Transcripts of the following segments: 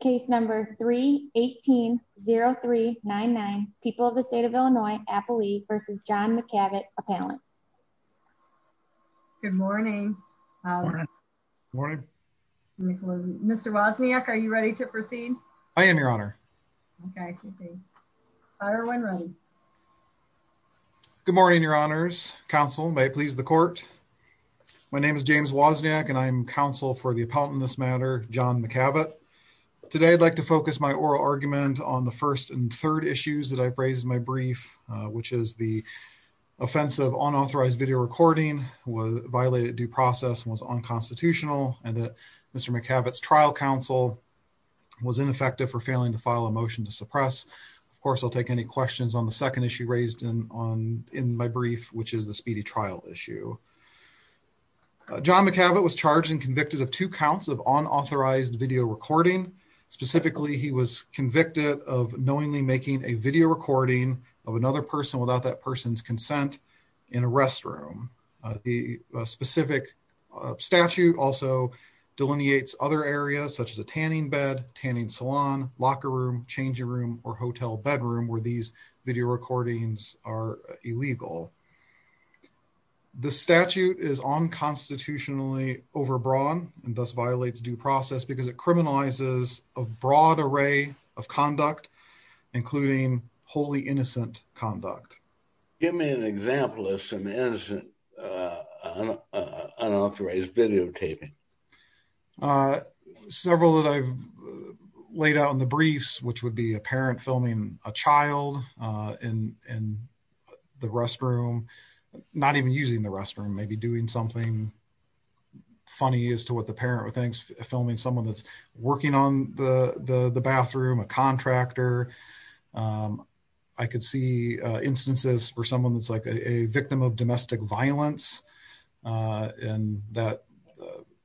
Case number 3-18-0399. People of the state of Illinois, Appley v. John McCavitt, Appellant. Good morning. Good morning. Mr. Wozniak, are you ready to proceed? I am, your honor. Okay. Fire when ready. Good morning, your honors. Counsel, may it please the court. My name is James Wozniak and I'm counsel for the appellant in this matter, John McCavitt. Today I'd like to focus my oral argument on the first and third issues that I've raised in my brief, which is the offense of unauthorized video recording violated due process and was unconstitutional and that Mr. McCavitt's trial counsel was ineffective for failing to file a motion to suppress. Of course, I'll take any questions on the second issue raised in my brief, which is the speedy trial issue. John McCavitt was charged and convicted of two counts of unauthorized video recording. Specifically, he was convicted of knowingly making a video recording of another person without that person's consent in a restroom. The specific statute also delineates other areas such as a tanning bed, tanning salon, locker room, changing room, or hotel bedroom where these video recordings are illegal. The statute is unconstitutionally overbroad and thus violates due process because it criminalizes a broad array of conduct, including wholly innocent conduct. Give me an example of some innocent unauthorized videotaping. Several that I've laid out in the briefs, which would be a parent filming a child in the restroom, not even using the restroom, maybe doing something funny as to what the parent would think, filming someone that's working on the bathroom, a contractor. I could see instances for someone that's like a victim of domestic violence and that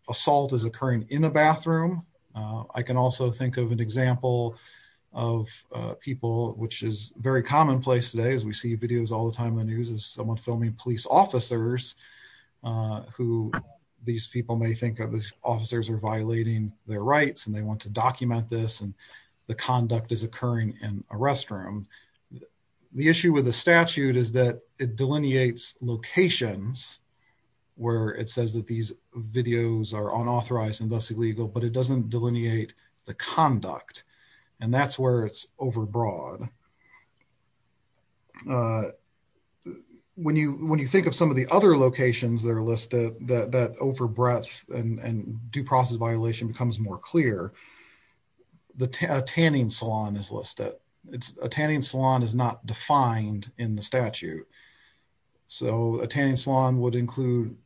assault is occurring in a bathroom. I can also think of an example of people, which is very commonplace today as we see videos all the time in the news of someone filming police officers who these people may think of as officers are violating their rights and they want to document this and the conduct is occurring in a restroom. The issue with the statute is that it delineates locations where it says that these videos are unauthorized and thus illegal, but it doesn't delineate the conduct and that's where it's overbroad. When you think of some of the other locations that are listed, that overbreadth and due process violation becomes more clear. The tanning salon is listed. A tanning salon is not defined in the statute. So a tanning salon would include,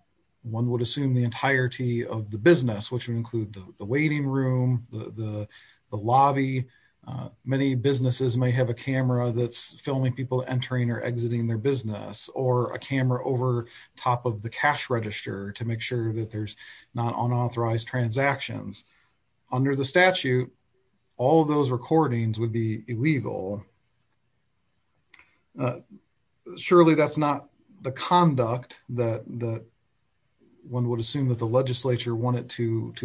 one would assume the entirety of the business, which would include the waiting room, the lobby. Many businesses may have a camera that's filming people entering or exiting their business or a camera over top of the cash register to make sure that there's not unauthorized transactions. Under the statute, all those recordings would be to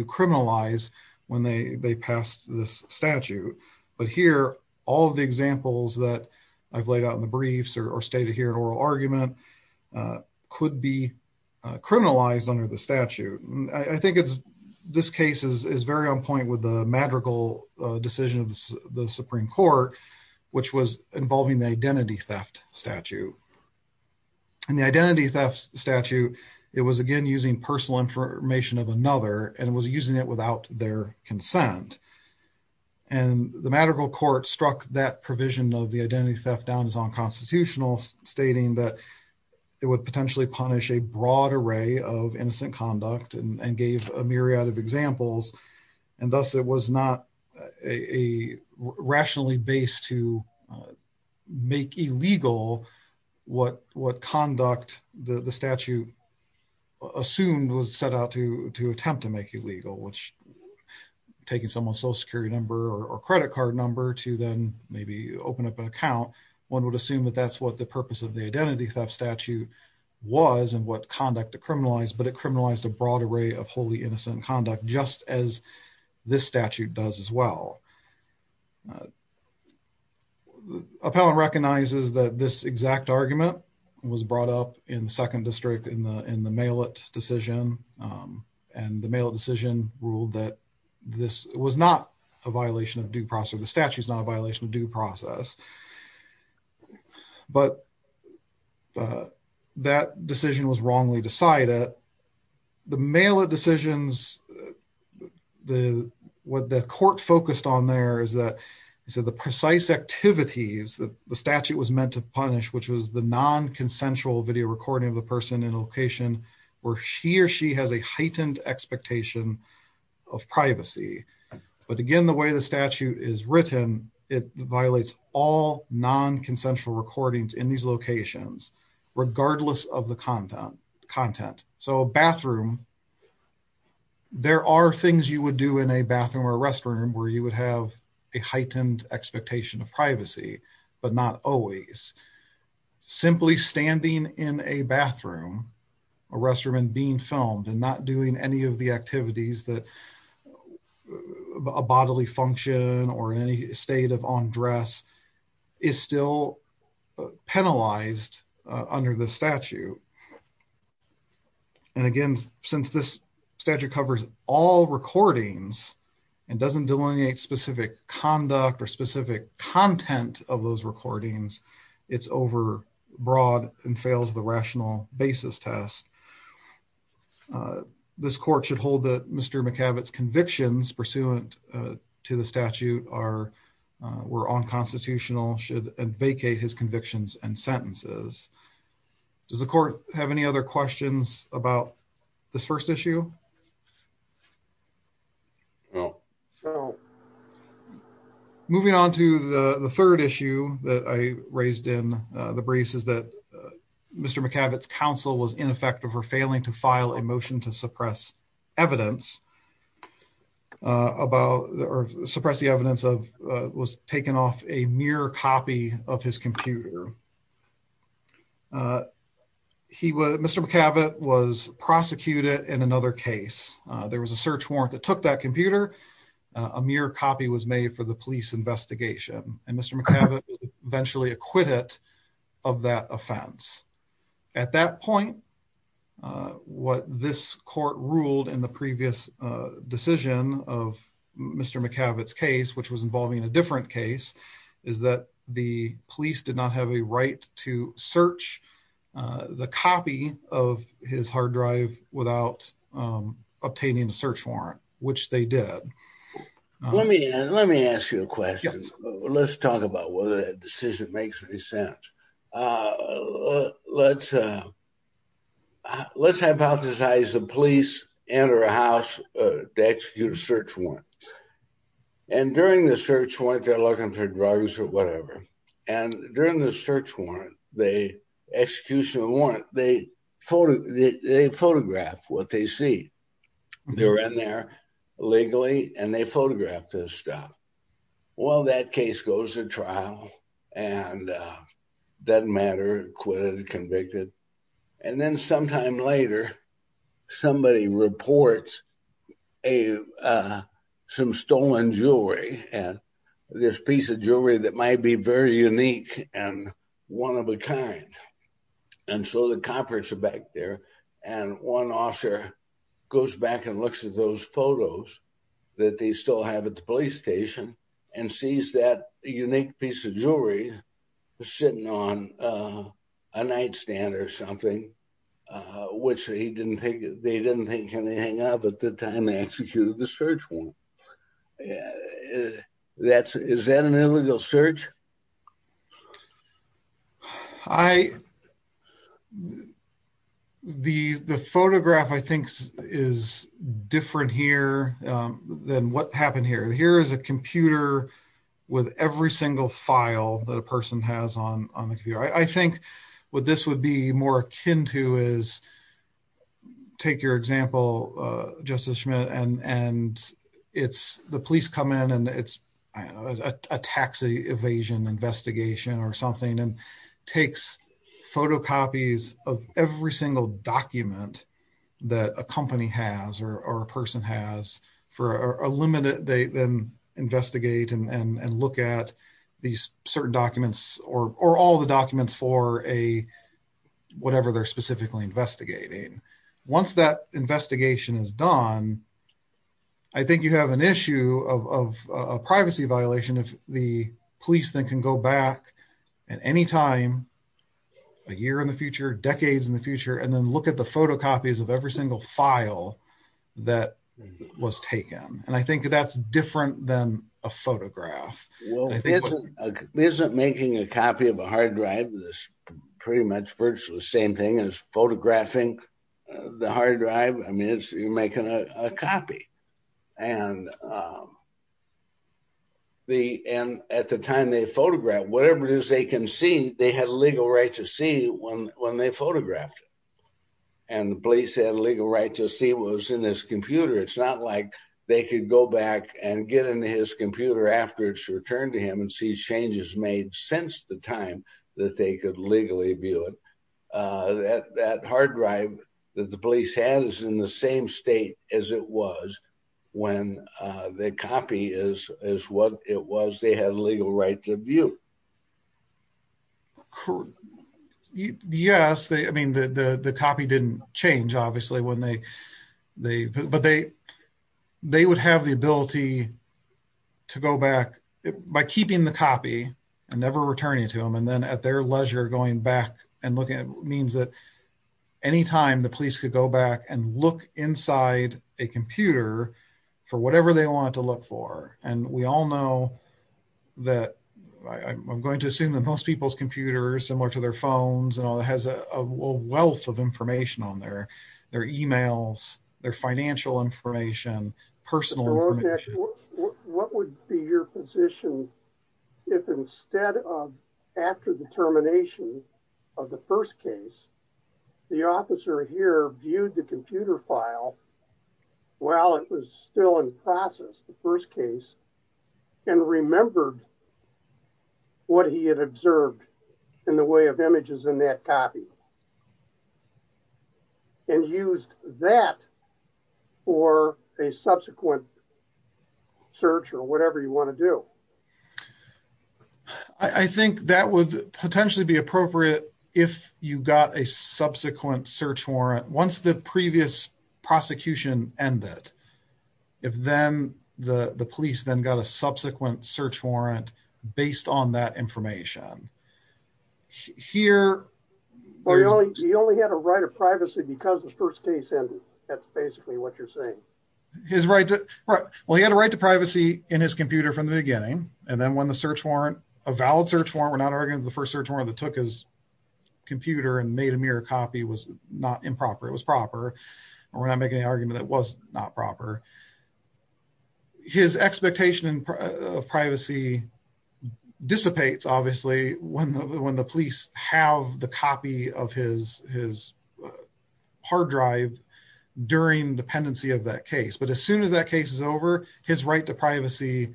criminalize when they passed this statute. But here, all of the examples that I've laid out in the briefs or stated here in oral argument could be criminalized under the statute. I think this case is very on point with the madrigal decision of the Supreme Court, which was involving the identity theft statute. In the identity theft statute, it was again using personal information of another and was using it without their consent. And the madrigal court struck that provision of the identity theft down as unconstitutional, stating that it would potentially punish a broad array of innocent conduct and gave a myriad of examples. And thus, it was not a rationally based to make illegal what conduct the statute assumed was set out to attempt to make illegal, which taking someone's social security number or credit card number to then maybe open up an account, one would assume that that's what the purpose of the identity theft statute was and what conduct to criminalize, but it criminalized a broad array of wholly innocent conduct just as this statute does as well. Appellant recognizes that this exact argument was brought up in the second district in the in the mail it decision. And the mail decision ruled that this was not a violation of due process. The statute is not a violation of due process. But that decision was wrongly decided. The mail it decisions, the what the court focused on there is that he said the precise activities that the statute was meant to punish, which was the non consensual video recording of the person in a location where she or she has a heightened expectation of privacy. But again, the way the statute is written, it violates all non consensual recordings in these locations, regardless of the content content. So bathroom, there are things you would do in a bathroom or restroom where you would have a heightened expectation of privacy, but not always. Simply standing in a bathroom, a restroom and being filmed and not doing any of the activities that a bodily function or in any state of undress is still penalized under the statute. And again, since this statute covers all recordings, and doesn't delineate specific conduct or specific content of those recordings, it's over broad and fails the rational basis test. This court should hold that Mr. McAbbott convictions pursuant to the statute are were unconstitutional should vacate his convictions and sentences. Does the court have any other questions about this first issue? No. So moving on to the third issue that I raised in the briefs is that Mr. McAbbott's counsel was ineffective for failing to file a motion to suppress evidence about or suppress the evidence of was taken off a mere copy of his computer. He was Mr. McAbbott was prosecuted in another case, there was a search warrant that took that computer, a mere copy was made for the police investigation, and Mr. McAbbott eventually acquitted of that offense. At that point, what this court ruled in the previous decision of Mr. McAbbott's case, which was involving a different case, is that the police did not have a right to search the copy of his hard drive without obtaining a search warrant, which they did. Let me ask you a question. Let's talk about whether that decision makes any sense. Let's hypothesize the police enter a house to execute a search warrant. And during the search warrant, they're looking for drugs or whatever. And during the search warrant, the execution of the warrant, they photograph what they see. They're in there legally, and they photograph this stuff. Well, that case goes to trial and doesn't matter, acquitted or convicted. And then sometime later, somebody reports some stolen jewelry, and this piece of jewelry that might be very unique and one of a kind. And so the coppers are back there. And one officer goes back and looks at those photos that they still have at the police station and sees that unique piece of jewelry sitting on a nightstand or something, which they didn't think can hang up at the time they executed the search warrant. Is that an illegal search? I, the photograph, I think, is different here than what happened here. Here is a computer with every single file that a person has on the computer. I think what this would be more akin to is, take your example, Justice Schmidt, and it's the police come in and it's a taxi evasion investigation or something and takes photocopies of every single document that a company has or a person has for a limited date, then investigate and look at these certain documents or all the investigation. Once that investigation is done, I think you have an issue of a privacy violation if the police then can go back at any time, a year in the future, decades in the future, and then look at the photocopies of every single file that was taken. And I think that's different than a photograph. Well, isn't making a copy of a hard drive this pretty much virtually the same thing as photographing the hard drive? I mean, you're making a copy. And at the time they photographed, whatever it is they can see, they had a legal right to see when they photographed it. And the police had a legal right to see what was in his computer. It's not like they could go back and get into his computer after it's returned to him and see changes made since the time that they could legally view it. That hard drive that the police had is in the same state as it was when the copy is what it was they had a legal right to view. Yes. I mean, the copy didn't change, obviously. But they would have the ability to go back by keeping the copy and never returning to him. And then at their leisure, going back and looking at means that anytime the police could go back and look inside a computer for whatever they want to look for. And we all know that I'm going to assume that most people's computers similar to their phones and all that has a wealth of information on their emails, their financial information, personal. What would be your position if instead of after the termination of the first case, the officer here viewed the computer file while it was still in process the first case and remembered what he had observed in the way of images in that copy and used that for a subsequent search or whatever you want to do? I think that would potentially be appropriate if you got a subsequent search warrant once the previous prosecution ended. If then the police then got a subsequent search warrant based on that he only had a right of privacy because the first case ended. That's basically what you're saying. Well, he had a right to privacy in his computer from the beginning. And then when the search warrant, a valid search warrant, we're not arguing the first search warrant that took his computer and made a mirror copy was not improper. It was proper. We're not making an argument that was not proper. His expectation of privacy dissipates, obviously, when the police have the copy of his hard drive during dependency of that case. But as soon as that case is over, his right to privacy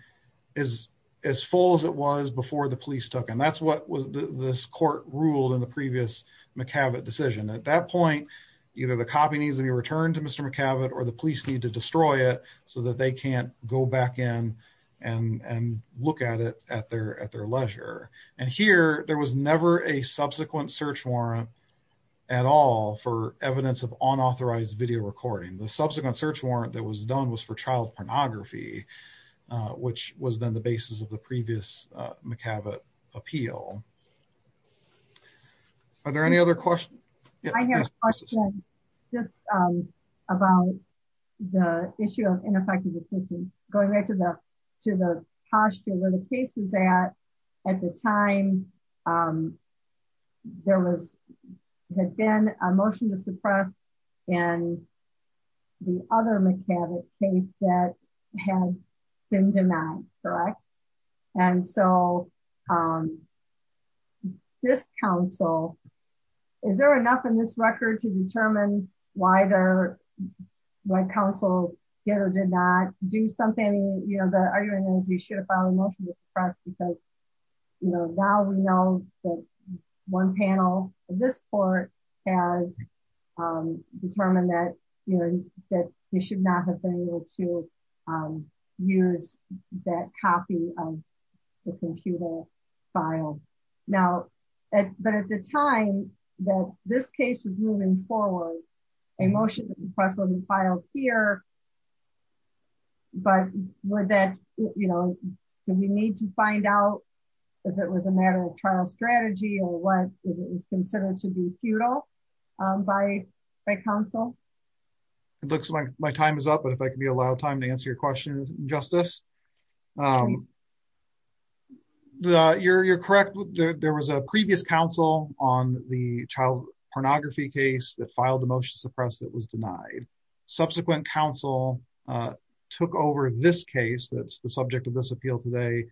is as full as it was before the police took. And that's what was this court ruled in the previous McCavitt decision. At that point, either the copy needs to be returned to Mr. McCavitt or the police need to destroy it so that they can't go back in and search warrant at all for evidence of unauthorized video recording. The subsequent search warrant that was done was for child pornography, which was then the basis of the previous McCavitt appeal. Are there any other questions? I have a question just about the issue of ineffective decision going back to the posture where the case was at. At the time, there was had been a motion to suppress and the other McCavitt case that had been denied. Correct. And so this council, is there enough in this record to determine why they're my counsel did or did not do something you know, the argument is you should have found motion to suppress because, you know, now we know that one panel in this court has determined that, you know, that you should not have been able to use that copy of the computer file. Now, but at the time that this case was moving forward, a motion to suppress will be filed here. But with that, you know, do we need to find out if it was a matter of trial strategy or what is considered to be futile by my counsel? It looks like my time is up. But if I can be allowed time to answer your question, Justice. You're correct. There was a previous counsel on the child pornography case that filed the motion suppress that was denied. Subsequent counsel took over this case that's the subject of this appeal today.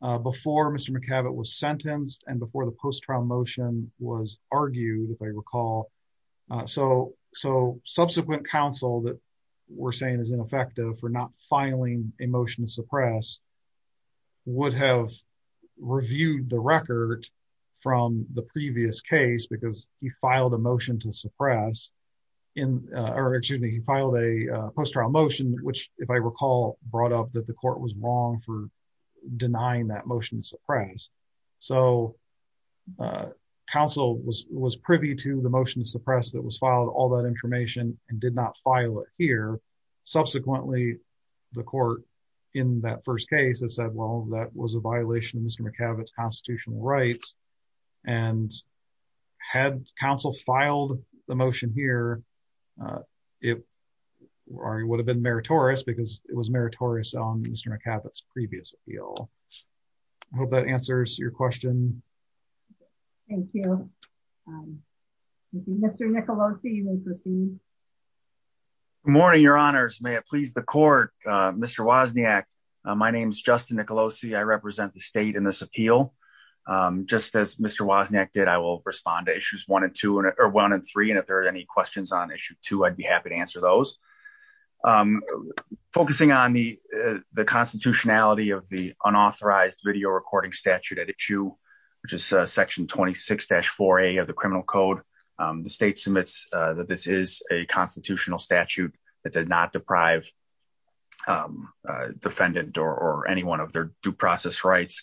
Before Mr. McCavitt was sentenced and before the post trial motion was argued, if I recall. So, so subsequent counsel that we're saying is ineffective for not filing a motion to suppress would have reviewed the record from the previous case because he filed a motion to suppress in or he filed a post trial motion, which if I recall, brought up that the court was wrong for denying that motion to suppress. So, counsel was was privy to the motion to suppress that was filed all that information and did not file it here. Subsequently, the court in that first case that said, well, that was a violation of Mr. McCavitt's constitutional rights. And had counsel filed the motion here, it would have been meritorious because it was meritorious on Mr. McCavitt's previous appeal. I hope that answers your question. Thank you. Mr. Nicolosi. Morning, Your Honors. May it please the court. Mr. Wozniak. My name is Justin Nicolosi. I am a member of the court. I'm here on behalf of the state in this appeal. Just as Mr. Wozniak did, I will respond to issues one and two or one and three. And if there are any questions on issue two, I'd be happy to answer those. Focusing on the, the constitutionality of the unauthorized video recording statute at issue, which is section 26-4A of the criminal code. The state submits that this is a constitutional statute that did not deprive defendant or anyone of their due process rights.